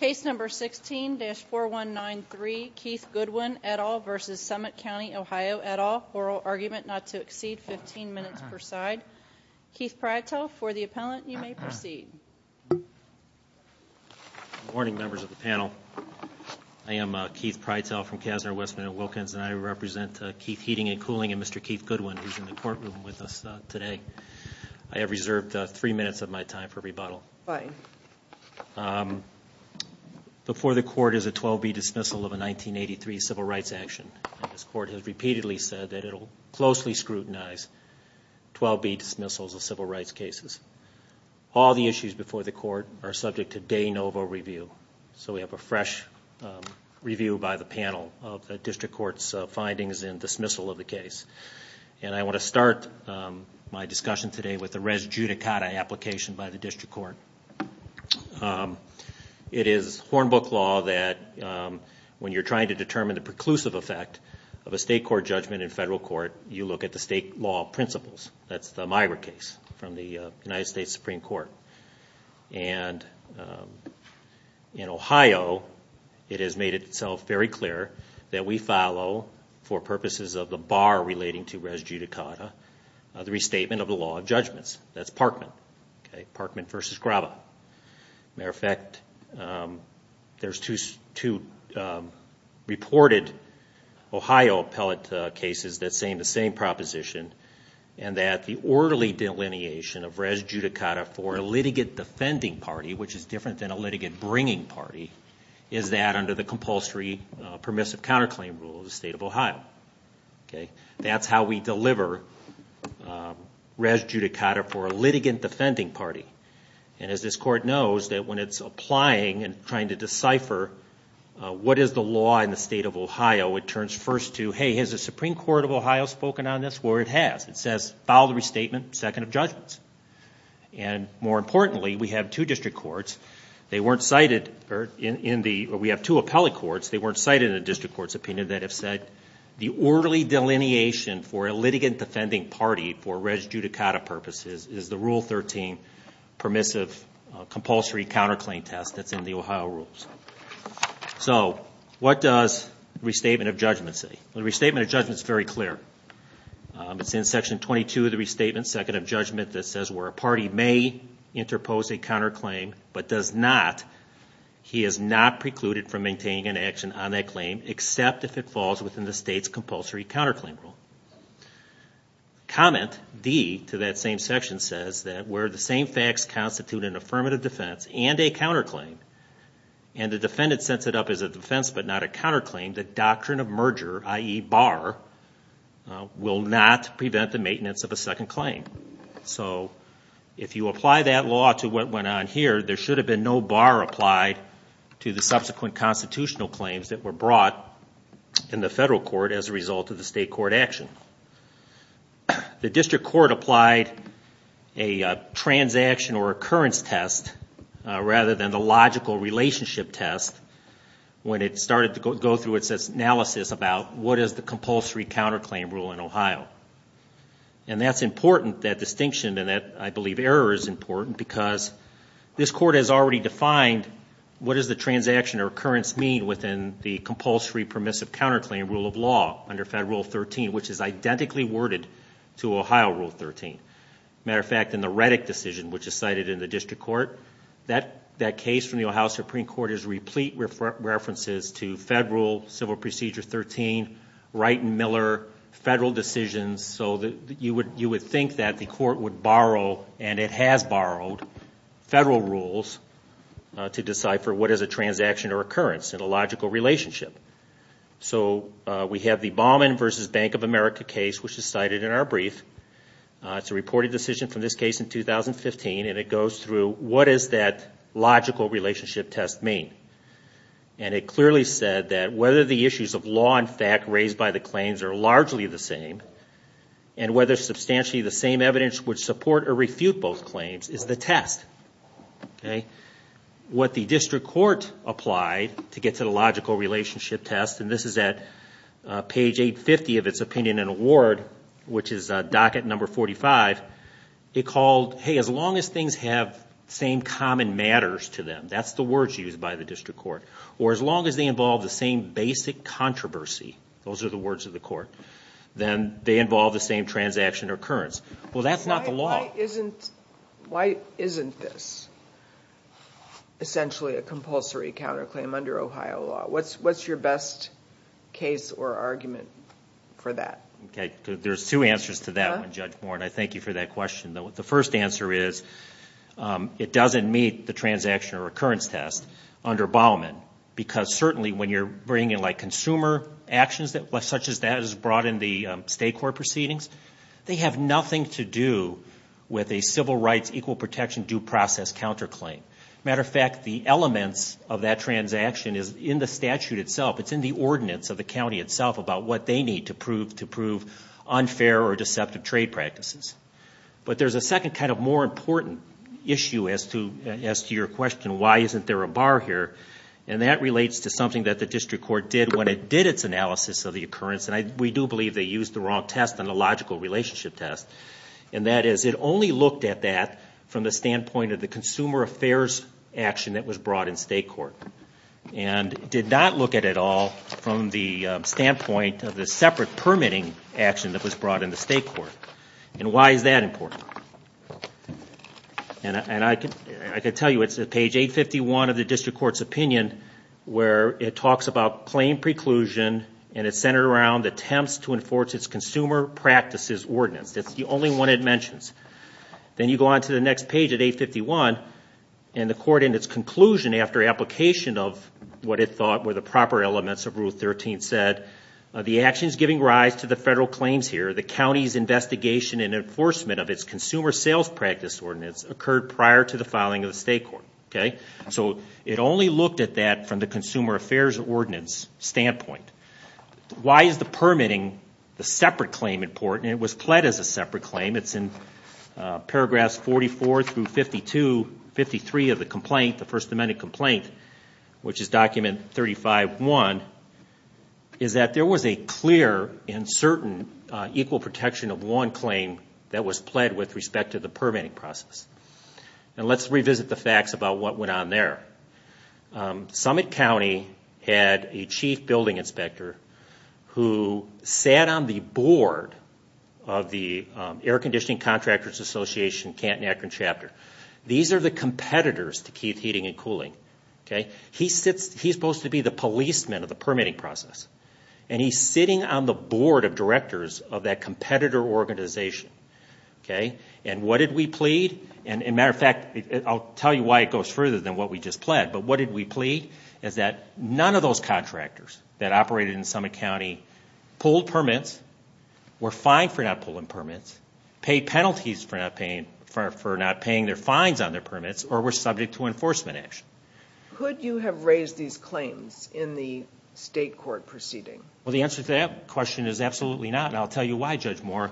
Case number 16-4193 Keith Goodwin et al. v. Summit County Ohio et al. Oral argument not to exceed 15 minutes per side. Keith Prytel for the appellant you may proceed. Good morning members of the panel. I am Keith Prytel from Kassner, Westman & Wilkins and I represent Keith Heating & Cooling and Mr. Keith Goodwin who is in the courtroom with us today. I have reserved three minutes of my time for rebuttal. Before the court is a 12B dismissal of a 1983 civil rights action. This court has repeatedly said that it will closely scrutinize 12B dismissals of civil rights cases. All the issues before the court are subject to de novo review. So we have a fresh review by the panel of the district court's findings in dismissal of the case. And I want to start my discussion today with the res judicata application by the district court. It is horn book law that when you are trying to determine the preclusive effect of a state court judgment in federal court you look at the state law principles. That's the Myra case from the United States Supreme Court. And in Ohio it has made itself very clear that we follow for purposes of the bar relating to res judicata the restatement of the law of judgments. That's Parkman. Parkman versus Graba. Matter of fact there's two reported Ohio appellate cases that say the same proposition and that the orderly delineation of res judicata for a litigant defending party, which is different than a litigant bringing party, is that under the compulsory permissive counterclaim rule of the state of Ohio. That's how we deliver res judicata for a litigant defending party. And as this court knows that when it's applying and trying to decipher what is the law in the state of Ohio it turns first to, hey, has the Supreme Court of Ohio spoken on this or it has. It says follow the restatement, second of judgments. And more importantly we have two district courts, they weren't cited in the, we have two appellate courts, they weren't cited in the district court's opinion that have said the orderly delineation for a litigant defending party for res judicata purposes is the Rule 13 permissive compulsory counterclaim test that's in the Ohio rules. So what does restatement of judgment say? The restatement of judgment is very clear. It's in section 22 of the restatement, second of judgment, that says where a party may interpose a counterclaim but does not, he is not precluded from maintaining an action on that claim except if it falls within the state's compulsory counterclaim rule. Comment D to that same section says that where the same facts constitute an affirmative defense and a counterclaim and the defendant sets it up as a defense but not a counterclaim, the doctrine of merger, i.e. bar, will not prevent the maintenance of a second claim. So if you apply that law to what went on here, there should have been no bar applied to the subsequent constitutional claims that were brought in the federal court as a result of the state court action. The district court applied a transaction or occurrence test rather than the logical relationship test when it started to go through its analysis about what is the compulsory counterclaim rule in Ohio. And that's important, that distinction and that, I believe, error is important because this court has already defined what does the transaction or occurrence mean within the compulsory permissive counterclaim rule of law under Federal Rule 13, which is identically worded to Ohio Rule 13. Matter of fact, in the Reddick decision, which is cited in the district court, that case from the Ohio Supreme Court is replete with references to Federal Civil Procedure 13, Wright and Miller, federal decisions so that you would think that the court would borrow, and it has borrowed, federal rules to decipher what is a transaction or occurrence in a logical relationship. So we have the Baumann v. Bank of America case, which is cited in our brief. It's a reported decision from this case in 2015, and it goes through what does that logical relationship test mean. And it clearly said that whether the issues of law and fact raised by the claims are largely the same, and whether substantially the same evidence would support or refute both claims, is the test. What the district court applied to get to the logical relationship test, and this is at page 850 of its opinion and award, which is docket number 45, it called, hey, as long as things have same common matters to them, that's the words used by the district court, or as long as they involve the same basic controversy, those are the words of the court, then they involve the same transaction or occurrence. Well, that's not the law. Why isn't this essentially a compulsory counterclaim under Ohio law? What's your best case or argument for that? Okay. There's two answers to that one, Judge Moore, and I thank you for that question. The first answer is it doesn't meet the transaction or occurrence test under Baumann, because certainly when you're bringing in like consumer actions, such as that is brought in the state court proceedings, they have nothing to do with a civil rights equal protection due process counterclaim. Matter of fact, the elements of that transaction is in the statute itself. It's in the ordinance of the county itself about what they need to prove unfair or deceptive trade practices. But there's a second kind of more important issue as to your question, why isn't there a bar here? And that relates to something that the district court did when it did its analysis of the occurrence, and we do believe they used the wrong test on the logical relationship test, and that is it only looked at that from the standpoint of the consumer affairs action that was brought in state court, and did not look at it all from the standpoint of the separate permitting action that was brought in the state court. And why is that important? And I can tell you it's at page 851 of the district court's opinion where it talks about plain preclusion, and it's centered around attempts to enforce its consumer practices ordinance. That's the only one it mentions. Then you go on to the next page at 851, and the court in its conclusion after application of what it thought were the proper elements of Rule 13 said, the actions giving rise to the federal claims here, the county's investigation and enforcement of its consumer sales practice ordinance occurred prior to the filing of the state court. So it only looked at that from the consumer affairs ordinance standpoint. Why is the permitting the separate claim important? It was pled as a separate claim. It's in paragraphs 44 through 52, 53 of the complaint, the first amended complaint, which is document 35.1, is that there was a clear and certain equal protection of one claim that was pled with respect to the permitting process. And let's revisit the facts about what went on there. Summit County had a chief building inspector who sat on the board of the Air Conditioning Contractors Association, Canton-Akron Chapter. These are the competitors to Keith Heating and Cooling. He's supposed to be the policeman of the permitting process, and he's sitting on the board of directors of that competitor organization. And what did we plead? And as a matter of fact, I'll tell you why it goes further than what we just pled, but what did we plead is that none of those contractors that operated in Summit County pulled permits, were fined for not pulling permits, paid penalties for not paying their fines on their permits, or were subject to enforcement action. Could you have raised these claims in the state court proceeding? Well, the answer to that question is absolutely not, and I'll tell you why, Judge Moore.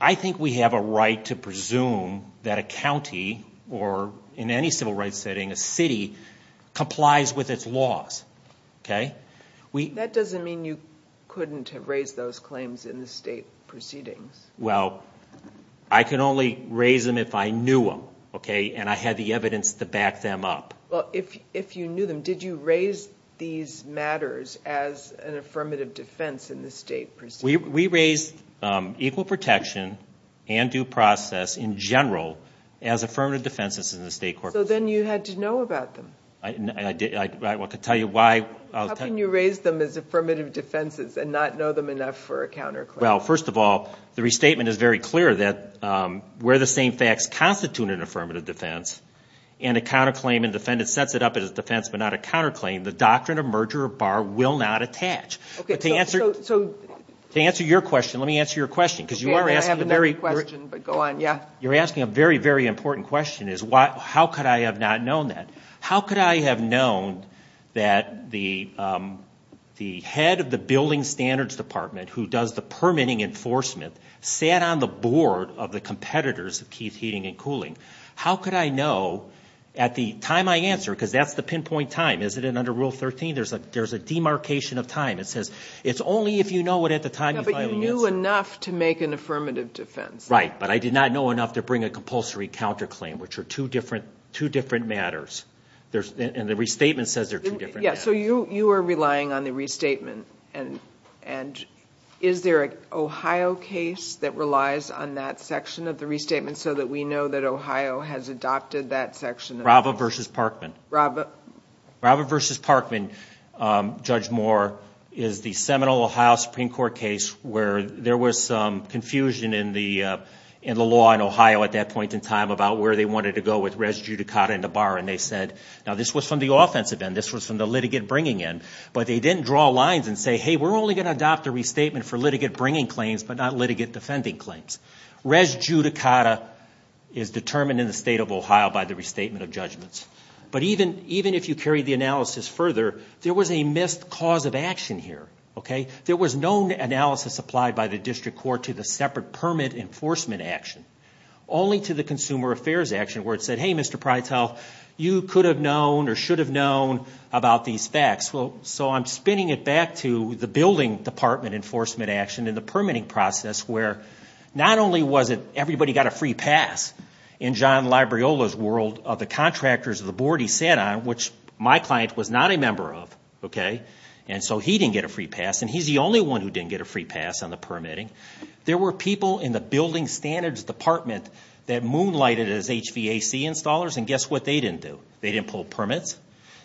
I think we have a right to presume that a county, or in any civil rights setting, a city, complies with its laws. That doesn't mean you couldn't have raised those claims in the state proceedings. Well, I can only raise them if I knew them, and I had the evidence to back them up. If you knew them, did you raise these matters as an affirmative defense in the state proceedings? We raised equal protection and due process in general as affirmative defenses in the state court proceedings. So then you had to know about them? I want to tell you why. How can you raise them as affirmative defenses and not know them enough for a counterclaim? Well, first of all, the restatement is very clear that where the same facts constitute an affirmative defense, and a counterclaim and defendant sets it up as a defense but not a counterclaim, the doctrine of merger or bar will not attach. Okay, so... To answer your question, let me answer your question, because you are asking a very... I have another question, but go on, yeah. You're asking a very, very important question, is how could I have not known that? How could I have known that the head of the Building Standards Department, who does the permitting enforcement, sat on the board of the competitors of Keith Heating and Cooling? How could I know, at the time I answer, because that's the pinpoint time, isn't it, under Rule 13, there's a demarcation of time, it says, it's only if you know it at the time you finally answer. No, but you knew enough to make an affirmative defense. Right, but I did not know enough to bring a compulsory counterclaim, which are two different matters, and the restatement says they're two different matters. Yeah, so you are relying on the restatement, and is there an Ohio case that relies on that section of the restatement so that we know that Ohio has adopted that section of the... Rava versus Parkman. Rava... Rava versus Parkman, Judge Moore, is the seminal Ohio Supreme Court case where there was some in the law in Ohio at that point in time about where they wanted to go with res judicata in the bar, and they said, now this was from the offensive end, this was from the litigate bringing end, but they didn't draw lines and say, hey, we're only going to adopt a restatement for litigate bringing claims, but not litigate defending claims. Res judicata is determined in the state of Ohio by the restatement of judgments. But even if you carry the analysis further, there was a missed cause of action here, okay? There was no analysis applied by the district court to the separate permit enforcement action, only to the consumer affairs action where it said, hey, Mr. Prytel, you could have known or should have known about these facts. So I'm spinning it back to the building department enforcement action and the permitting process where not only was it everybody got a free pass in John Libriola's world of the contractors of the board he sat on, which my client was not a member of, okay, and so he didn't get a free pass and he's the only one who didn't get a free pass on the permitting. There were people in the building standards department that moonlighted as HVAC installers and guess what they didn't do? They didn't pull permits,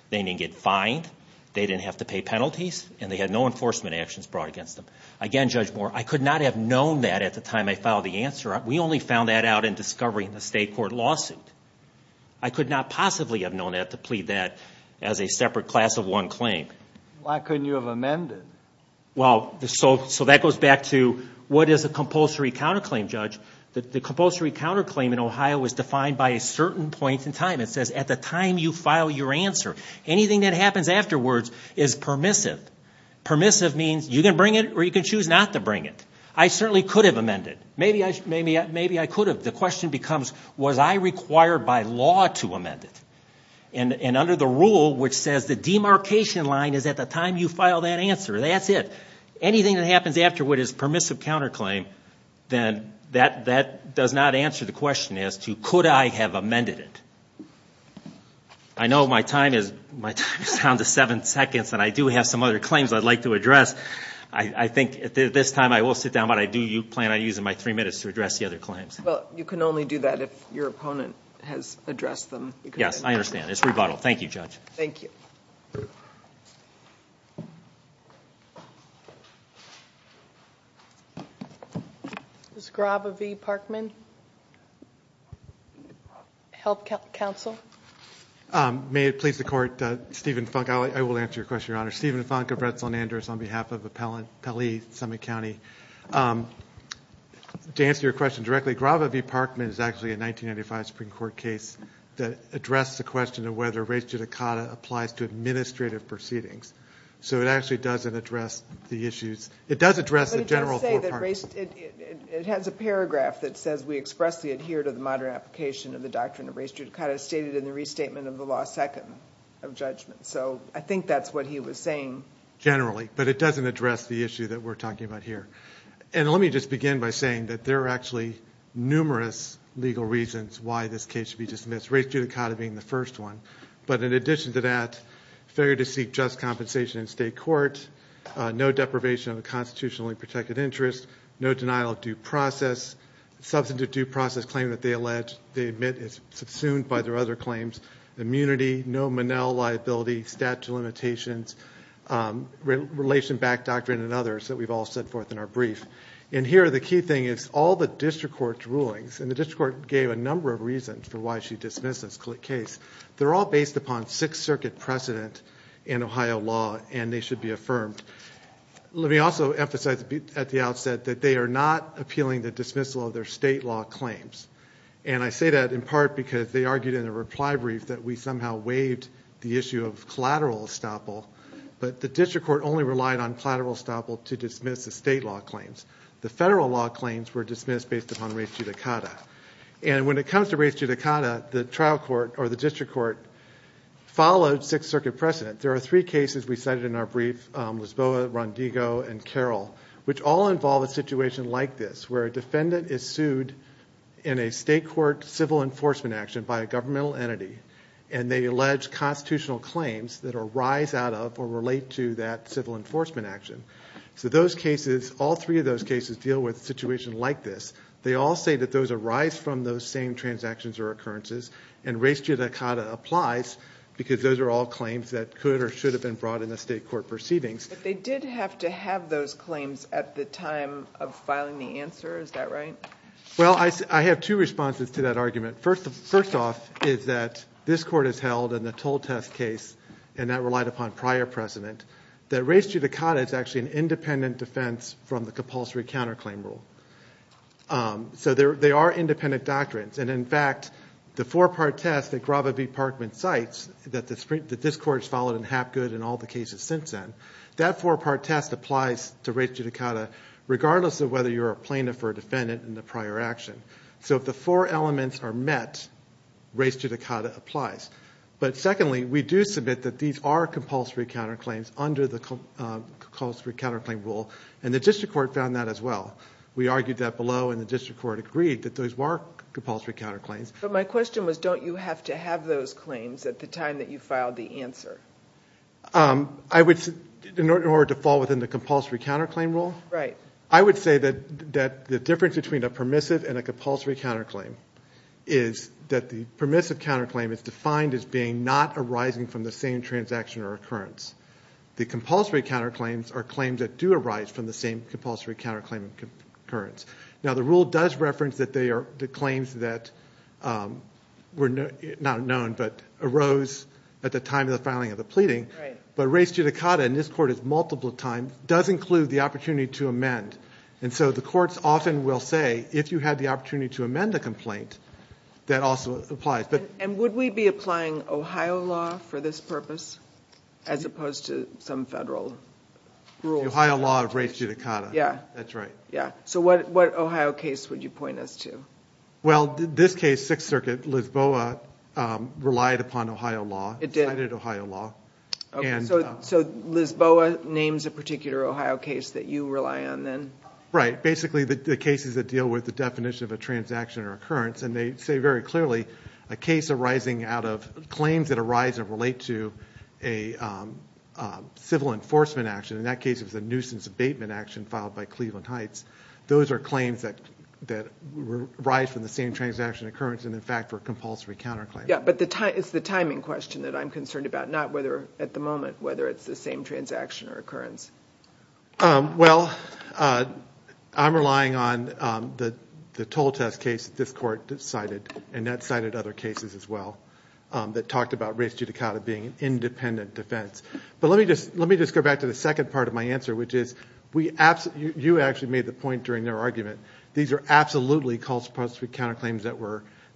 they didn't get fined, they didn't have to pay penalties, and they had no enforcement actions brought against them. Again, Judge Moore, I could not have known that at the time I filed the answer. We only found that out in discovery in the state court lawsuit. I could not possibly have known that to plead that as a separate class of one claim. Why couldn't you have amended? Well, so that goes back to what is a compulsory counterclaim, Judge? The compulsory counterclaim in Ohio is defined by a certain point in time. It says at the time you file your answer, anything that happens afterwards is permissive. Permissive means you can bring it or you can choose not to bring it. I certainly could have amended. Maybe I could have. The question becomes was I required by law to amend it? And under the rule which says the demarcation line is at the time you file that answer, that's it. Anything that happens afterward is permissive counterclaim, then that does not answer the question as to could I have amended it. I know my time is down to seven seconds and I do have some other claims I'd like to address. I think at this time I will sit down, but I do plan on using my three minutes to address the other claims. Well, you can only do that if your opponent has addressed them. Yes, I understand. It's rebuttal. Thank you, Judge. Thank you. This is Grava V. Parkman, Health Council. May it please the Court, Stephen Funk. I will answer your question, Your Honor. Stephen Funk of Redstone Andrews on behalf of Appellee Summit County. To answer your question directly, Grava V. Parkman is actually a 1995 Supreme Court case that addressed the question of whether res judicata applies to administrative proceedings. So it actually doesn't address the issues. It does address the general four parts. It has a paragraph that says we expressly adhere to the modern application of the doctrine of res judicata stated in the restatement of the law second of judgment. So I think that's what he was saying. Generally. But it doesn't address the issue that we're talking about here. And let me just begin by saying that there are actually numerous legal reasons why this case should be dismissed, res judicata being the first one. But in addition to that, failure to seek just compensation in state court, no deprivation of a constitutionally protected interest, no denial of due process, substantive due process claim that they allege they admit is subsumed by their other claims, immunity, no Monell liability, statute of limitations, relation-backed doctrine, and others that we've all set forth in our brief. And here, the key thing is all the district court's rulings, and the district court gave a number of reasons for why she dismissed this case. They're all based upon Sixth Circuit precedent in Ohio law, and they should be affirmed. Let me also emphasize at the outset that they are not appealing the dismissal of their state law claims, and I say that in part because they argued in a reply brief that we somehow waived the issue of collateral estoppel, but the district court only relied on collateral estoppel to dismiss the state law claims. The federal law claims were dismissed based upon res judicata. And when it comes to res judicata, the trial court or the district court followed Sixth Circuit precedent. There are three cases we cited in our brief, Lisboa, Rondigo, and Carroll, which all involve a situation like this, where a defendant is sued in a state court civil enforcement action by a governmental entity, and they allege constitutional claims that arise out of or relate to that civil enforcement action. So those cases, all three of those cases deal with a situation like this. They all say that those arise from those same transactions or occurrences, and res judicata applies because those are all claims that could or should have been brought in the state court proceedings. But they did have to have those claims at the time of filing the answer, is that right? Well, I have two responses to that argument. First off is that this court has held in the toll test case, and that relied upon prior precedent, that res judicata is actually an independent defense from the compulsory counterclaim rule. So they are independent doctrines, and in fact, the four-part test that Grava V. Parkman cites, that this court has followed in Hapgood and all the cases since then, that four-part test applies to res judicata, regardless of whether you're a plaintiff or a defendant in the prior action. So if the four elements are met, res judicata applies. But secondly, we do submit that these are compulsory counterclaims under the compulsory counterclaim rule, and the district court found that as well. We argued that below, and the district court agreed that those were compulsory counterclaims. But my question was, don't you have to have those claims at the time that you filed the answer? I would, in order to fall within the compulsory counterclaim rule? Right. I would say that the difference between a permissive and a compulsory counterclaim is that the permissive counterclaim is defined as being not arising from the same transaction or occurrence. The compulsory counterclaims are claims that do arise from the same compulsory counterclaim occurrence. Now, the rule does reference that the claims that were not known but arose at the time of the filing of the pleading. But res judicata, and this court has multiple times, does include the opportunity to amend. And so the courts often will say, if you had the opportunity to amend the complaint, that also applies. And would we be applying Ohio law for this purpose, as opposed to some federal rules? Ohio law of res judicata. Yeah. That's right. Yeah. So what Ohio case would you point us to? Well, this case, Sixth Circuit, Lisboa, relied upon Ohio law. It did. It cited Ohio law. So Lisboa names a particular Ohio case that you rely on then? Right. Basically, the cases that deal with the definition of a transaction or occurrence. And they say very clearly, a case arising out of claims that arise and relate to a civil enforcement action. In that case, it was a nuisance abatement action filed by Cleveland Heights. Those are claims that arise from the same transaction occurrence and, in fact, were compulsory counterclaim. Yeah. But it's the timing question that I'm concerned about, not whether, at the moment, whether it's the same transaction or occurrence. Well, I'm relying on the toll test case that this court cited. And that cited other cases as well that talked about res judicata being an independent defense. But let me just go back to the second part of my answer, which is you actually made the point during their argument. These are absolutely compulsory counterclaims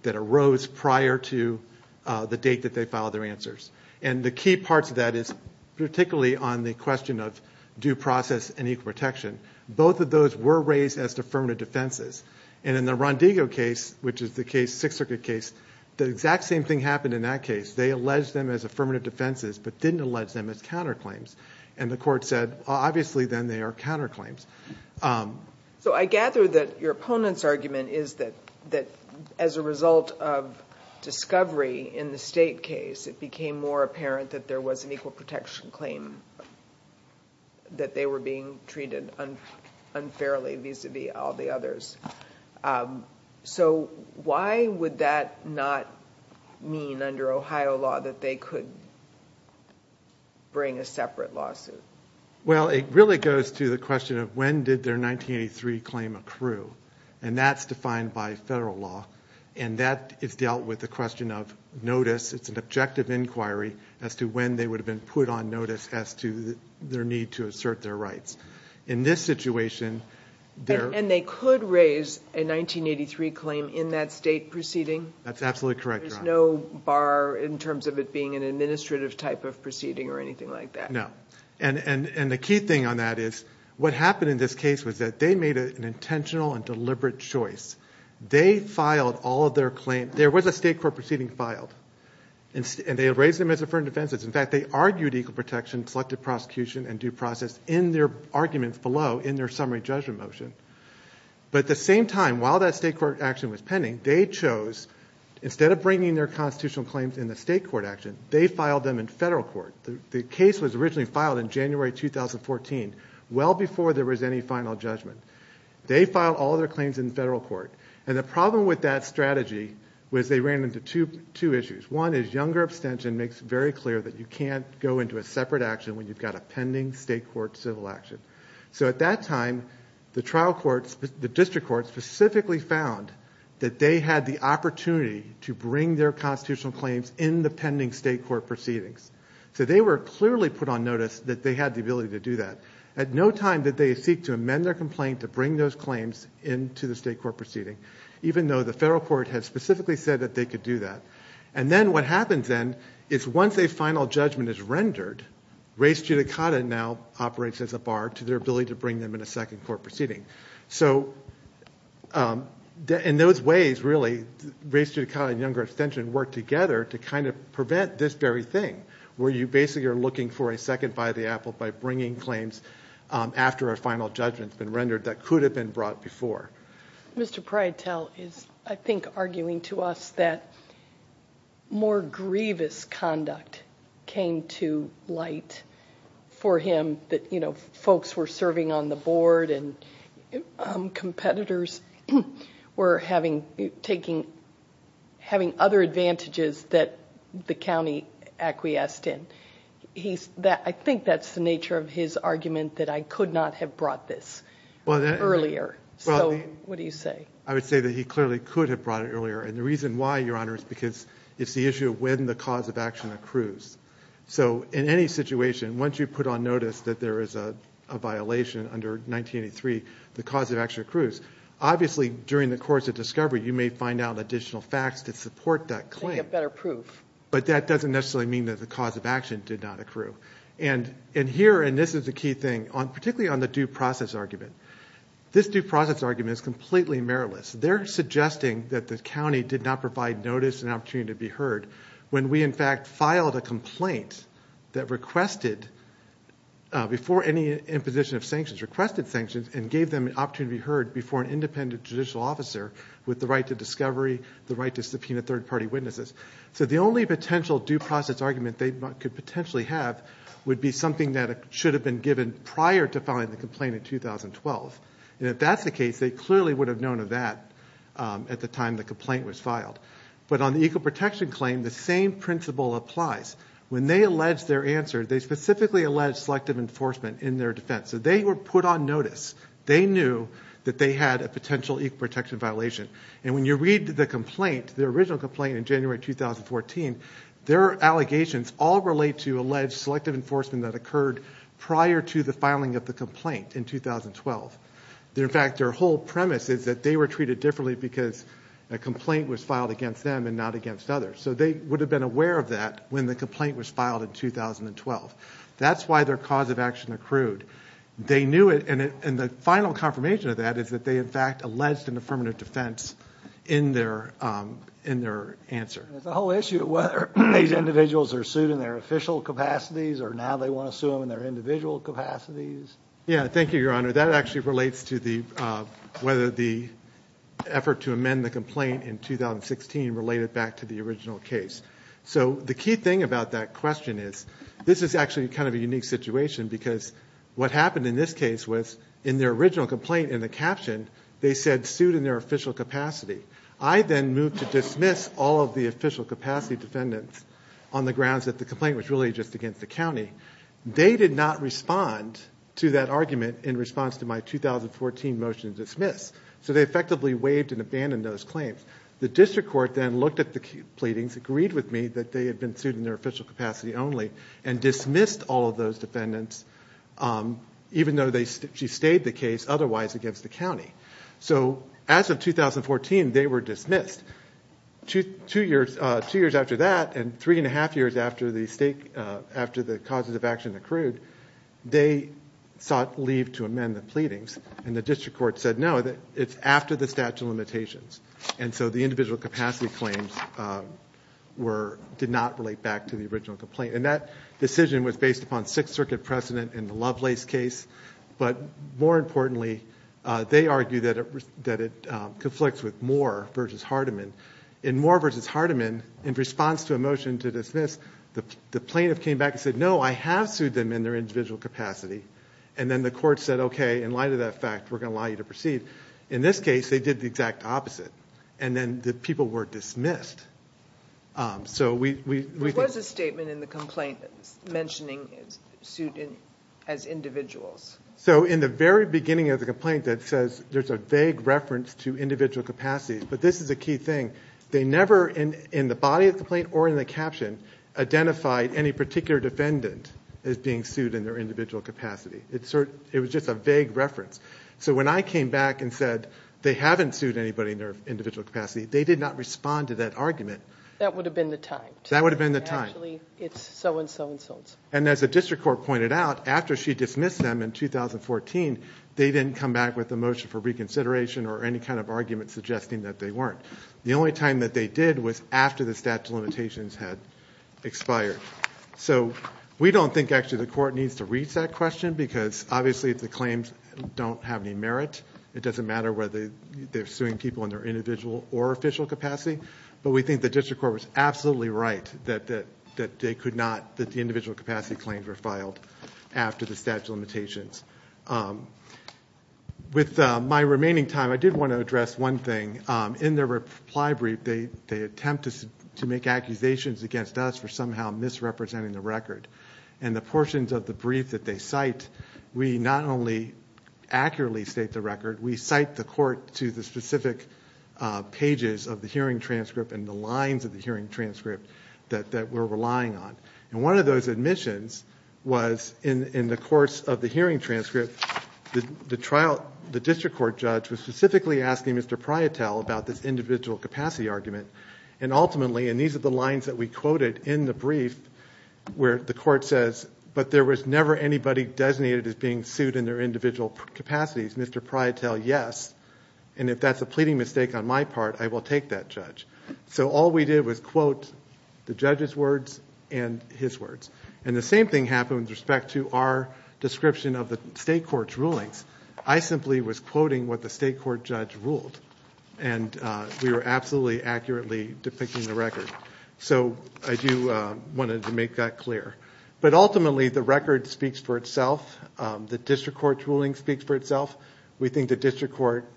that arose prior to the date that they filed their answers. And the key parts of that is, particularly on the question of due process and equal protection, both of those were raised as affirmative defenses. And in the Rondigo case, which is the Sixth Circuit case, the exact same thing happened in that case. They alleged them as affirmative defenses, but didn't allege them as counterclaims. And the court said, obviously, then they are counterclaims. So I gather that your opponent's argument is that, as a result of discovery in the State case, it became more apparent that there was an equal protection claim, that they were being treated unfairly vis-a-vis all the others. So why would that not mean, under Ohio law, that they could bring a separate lawsuit? Well, it really goes to the question of, when did their 1983 claim accrue? And that's defined by federal law. And that is dealt with the question of notice. It's an objective inquiry as to when they would have been put on notice as to their need to assert their rights. In this situation, they're- That's absolutely correct, Your Honor. There's no bar in terms of it being an administrative type of proceeding or anything like that. No. And the key thing on that is, what happened in this case was that they made an intentional and deliberate choice. They filed all of their claims. There was a state court proceeding filed. And they raised them as affirmative defenses. In fact, they argued equal protection, selective prosecution, and due process in their arguments below in their summary judgment motion. But at the same time, while that state court action was pending, they chose, instead of bringing their constitutional claims in the state court action, they filed them in federal court. The case was originally filed in January 2014, well before there was any final judgment. They filed all their claims in federal court. And the problem with that strategy was they ran into two issues. One is younger abstention makes it very clear that you can't go into a separate action when you've got a pending state court civil action. So at that time, the trial courts, the district courts, specifically found that they had the opportunity to bring their constitutional claims in the pending state court proceedings. So they were clearly put on notice that they had the ability to do that. At no time did they seek to amend their complaint to bring those claims into the state court proceeding, even though the federal court had specifically said that they could do that. And then what happens then is once a final judgment is rendered, race judicata now operates as a bar to their ability to bring them in a second court proceeding. So in those ways, really, race judicata and younger abstention work together to kind of prevent this very thing, where you basically are looking for a second by the apple by bringing claims after a final judgment's been rendered that could have been brought before. Mr. Prytel is, I think, arguing to us that more grievous conduct came to light for him, that folks were serving on the board and competitors were having other advantages that the county acquiesced in. I think that's the nature of his argument that I could not have brought this earlier. So what do you say? I would say that he clearly could have brought it earlier. And the reason why, Your Honor, is because it's the issue of when the cause of action accrues. So in any situation, once you put on notice that there is a violation under 1983, the cause of action accrues. Obviously, during the course of discovery, you may find out additional facts to support that claim. They get better proof. But that doesn't necessarily mean that the cause of action did not accrue. And here, and this is the key thing, particularly on the due process argument, this due process argument is completely meritless. They're suggesting that the county did not provide notice and opportunity to be heard when we, in fact, filed a complaint that requested, before any imposition of sanctions, requested sanctions and gave them an opportunity to be heard before an independent judicial officer with the right to discovery, the right to subpoena third party witnesses. So the only potential due process argument they could potentially have would be something that should have been given prior to filing the complaint in 2012. And if that's the case, they clearly would have known of that at the time the complaint was filed. But on the equal protection claim, the same principle applies. When they allege their answer, they specifically allege selective enforcement in their defense. So they were put on notice. They knew that they had a potential equal protection violation. And when you read the complaint, the original complaint in January 2014, their allegations all relate to alleged selective enforcement that occurred prior to the filing of the complaint in 2012. In fact, their whole premise is that they were treated differently because a complaint was filed against them and not against others. So they would have been aware of that when the complaint was filed in 2012. That's why their cause of action accrued. They knew it. And the final confirmation of that is that they, in fact, alleged an affirmative defense in their answer. The whole issue of whether these individuals are sued in their official capacities or now they want to sue them in their individual capacities. Yeah, thank you, Your Honor. That actually relates to whether the effort to amend the complaint in 2016 related back to the original case. So the key thing about that question is this is actually kind of a unique situation because what happened in this case was in their original complaint in the caption, they said sued in their official capacity. I then moved to dismiss all of the official capacity defendants on the grounds that the complaint was really just against the county. They did not respond to that argument in response to my 2014 motion to dismiss. So they effectively waived and abandoned those claims. The district court then looked at the pleadings, agreed with me that they had been sued in their official capacity only, and dismissed all of those defendants, even though she stayed the case otherwise against the county. So as of 2014, they were dismissed. Two years after that and 3 and 1 half years after the causes of action accrued, they sought leave to amend the pleadings. And the district court said, no, it's after the statute of limitations. And so the individual capacity claims did not relate back to the original complaint. And that decision was based upon Sixth Circuit precedent in the Lovelace case. But more importantly, they argue that it conflicts with Moore versus Hardiman. In Moore versus Hardiman, in response to a motion to dismiss, the plaintiff came back and said, no, I have sued them in their individual capacity. And then the court said, OK, in light of that fact, we're going to allow you to proceed. In this case, they did the exact opposite. And then the people were dismissed. So we think There was a statement in the complaint mentioning sued as individuals. So in the very beginning of the complaint, that says there's a vague reference to individual capacity. But this is a key thing. They never, in the body of the complaint or in the caption, identified any particular defendant as being sued in their individual capacity. It was just a vague reference. So when I came back and said, they haven't sued anybody in their individual capacity, they did not respond to that argument. That would have been the time. That would have been the time. Actually, it's so-and-so-and-so. And as the district court pointed out, after she dismissed them in 2014, they didn't come back with a motion for reconsideration or any kind of argument suggesting that they weren't. The only time that they did was after the statute of limitations had expired. So we don't think, actually, the court needs to reach that question. Because obviously, if the claims don't have any merit, it doesn't matter whether they're suing people in their individual or official capacity. But we think the district court was absolutely right that the individual capacity claims were filed after the statute of limitations. With my remaining time, I did want to address one thing. In their reply brief, they attempt to make accusations against us for somehow misrepresenting the record. And the portions of the brief that they cite, we not only accurately state the record, we cite the court to the specific pages of the hearing transcript and the lines of the hearing transcript that we're relying on. And one of those admissions was, in the course of the hearing transcript, the district court judge was specifically asking Mr. Prietel about this individual capacity argument. And ultimately, and these are the lines that we quoted in the brief, where the court says, but there was never anybody designated as being sued in their individual capacities. Mr. Prietel, yes. And if that's a pleading mistake on my part, I will take that, judge. So all we did was quote the judge's words and his words. And the same thing happened with respect to our description of the state court's rulings. I simply was quoting what the state court judge ruled. And we were absolutely accurately depicting the record. So I do want to make that clear. But ultimately, the record speaks for itself. The district court's ruling speaks for itself. We think the district court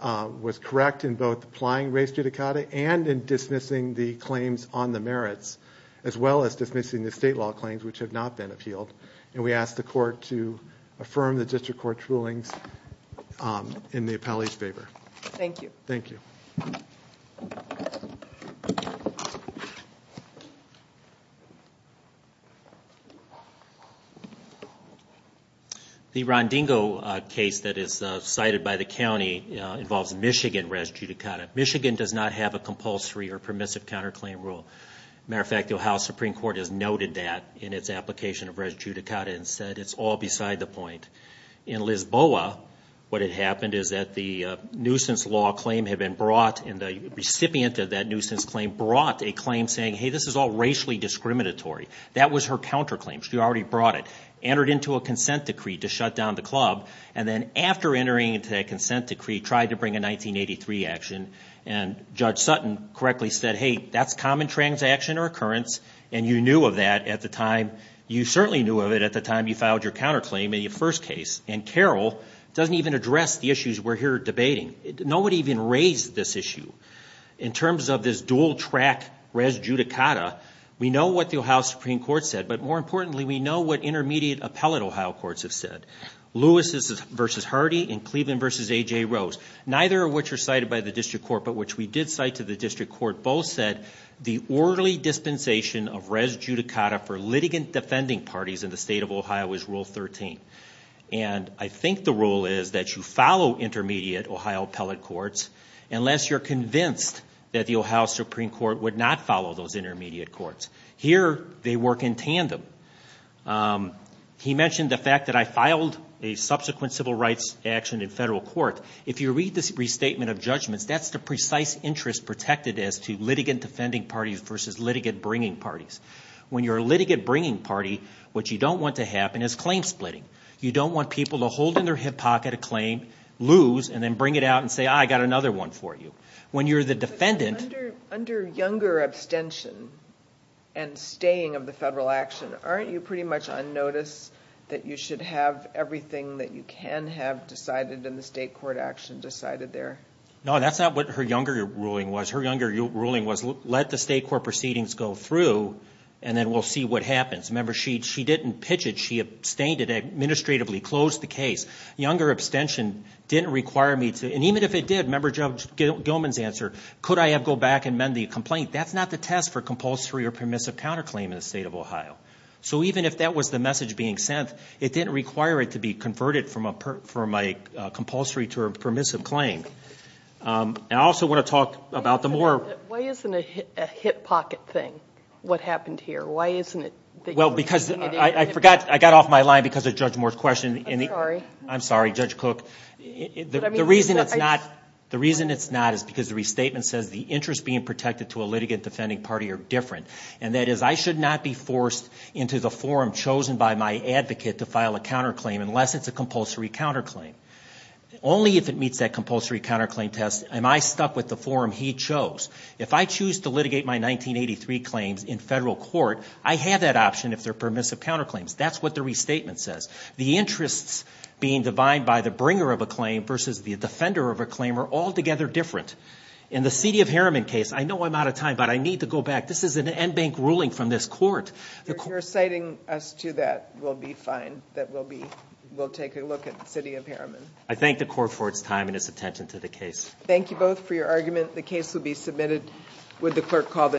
was correct in both applying race judicata and in dismissing the claims on the merits, as well as dismissing the state law claims which have not been appealed. And we ask the court to affirm the district court's rulings in the appellee's favor. Thank you. Thank you. Thank you. The Rondingo case that is cited by the county involves Michigan race judicata. Michigan does not have a compulsory or permissive counterclaim rule. Matter of fact, the Ohio Supreme Court has noted that in its application of race judicata and said it's all beside the point. In Lisboa, what had happened is that the nuisance law claim had been brought. And the recipient of that nuisance claim brought a claim saying, hey, this is all racially discriminatory. That was her counterclaim. She already brought it. Entered into a consent decree to shut down the club. And then after entering into that consent decree, tried to bring a 1983 action. And Judge Sutton correctly said, hey, that's common transaction or occurrence. And you knew of that at the time. You certainly knew of it at the time you filed your counterclaim in your first case. And Carroll doesn't even address the issues we're here debating. Nobody even raised this issue. In terms of this dual track race judicata, we know what the Ohio Supreme Court said. But more importantly, we know what intermediate appellate Ohio courts have said. Lewis v. Hardy and Cleveland v. AJ Rose, neither of which are cited by the district court, but which we did cite to the district court both said, the orderly dispensation of race judicata for litigant defending parties in the state of Ohio is rule 13. And I think the rule is that you follow intermediate Ohio appellate courts unless you're convinced that the Ohio Supreme Court would not follow those intermediate courts. Here, they work in tandem. He mentioned the fact that I filed a subsequent civil rights action in federal court. If you read this restatement of judgments, that's the precise interest protected as to litigant defending parties versus litigant bringing parties. When you're a litigant bringing party, what you don't want to happen is claim splitting. You don't want people to hold in their hip pocket a claim, lose, and then bring it out and say, I got another one for you. When you're the defendant. Under younger abstention and staying of the federal action, aren't you pretty much on notice that you should have everything that you can have decided in the state court action decided there? No, that's not what her younger ruling was. Her younger ruling was, let the state court proceedings go through, and then we'll see what happens. Remember, she didn't pitch it. She abstained it administratively, closed the case. Younger abstention didn't require me to, and even if it did, member Judge Gilman's answer, could I go back and mend the complaint? That's not the test for compulsory or permissive counterclaim in the state of Ohio. So even if that was the message being sent, it didn't require it to be converted from a compulsory to a permissive claim. And I also want to talk about the more. Why isn't a hip pocket thing what happened here? Why isn't it? Well, because I forgot, I got off my line because of Judge Moore's question. I'm sorry. I'm sorry, Judge Cooke. The reason it's not is because the restatement says the interest being protected to a litigant defending party are different. And that is, I should not be forced into the forum chosen by my advocate to file a counterclaim unless it's a compulsory counterclaim. Only if it meets that compulsory counterclaim test am I stuck with the forum he chose. If I choose to litigate my 1983 claims in federal court, I have that option if they're permissive counterclaims. That's what the restatement says. The interests being defined by the bringer of a claim versus the defender of a claim are altogether different. In the city of Harriman case, I know I'm out of time, but I need to go back. This is an NBank ruling from this court. The court- If you're citing us to that, we'll be fine. That we'll be, we'll take a look at the city of Harriman. I thank the court for its time and its attention to the case. Thank you both for your argument. The case will be submitted with the clerk call.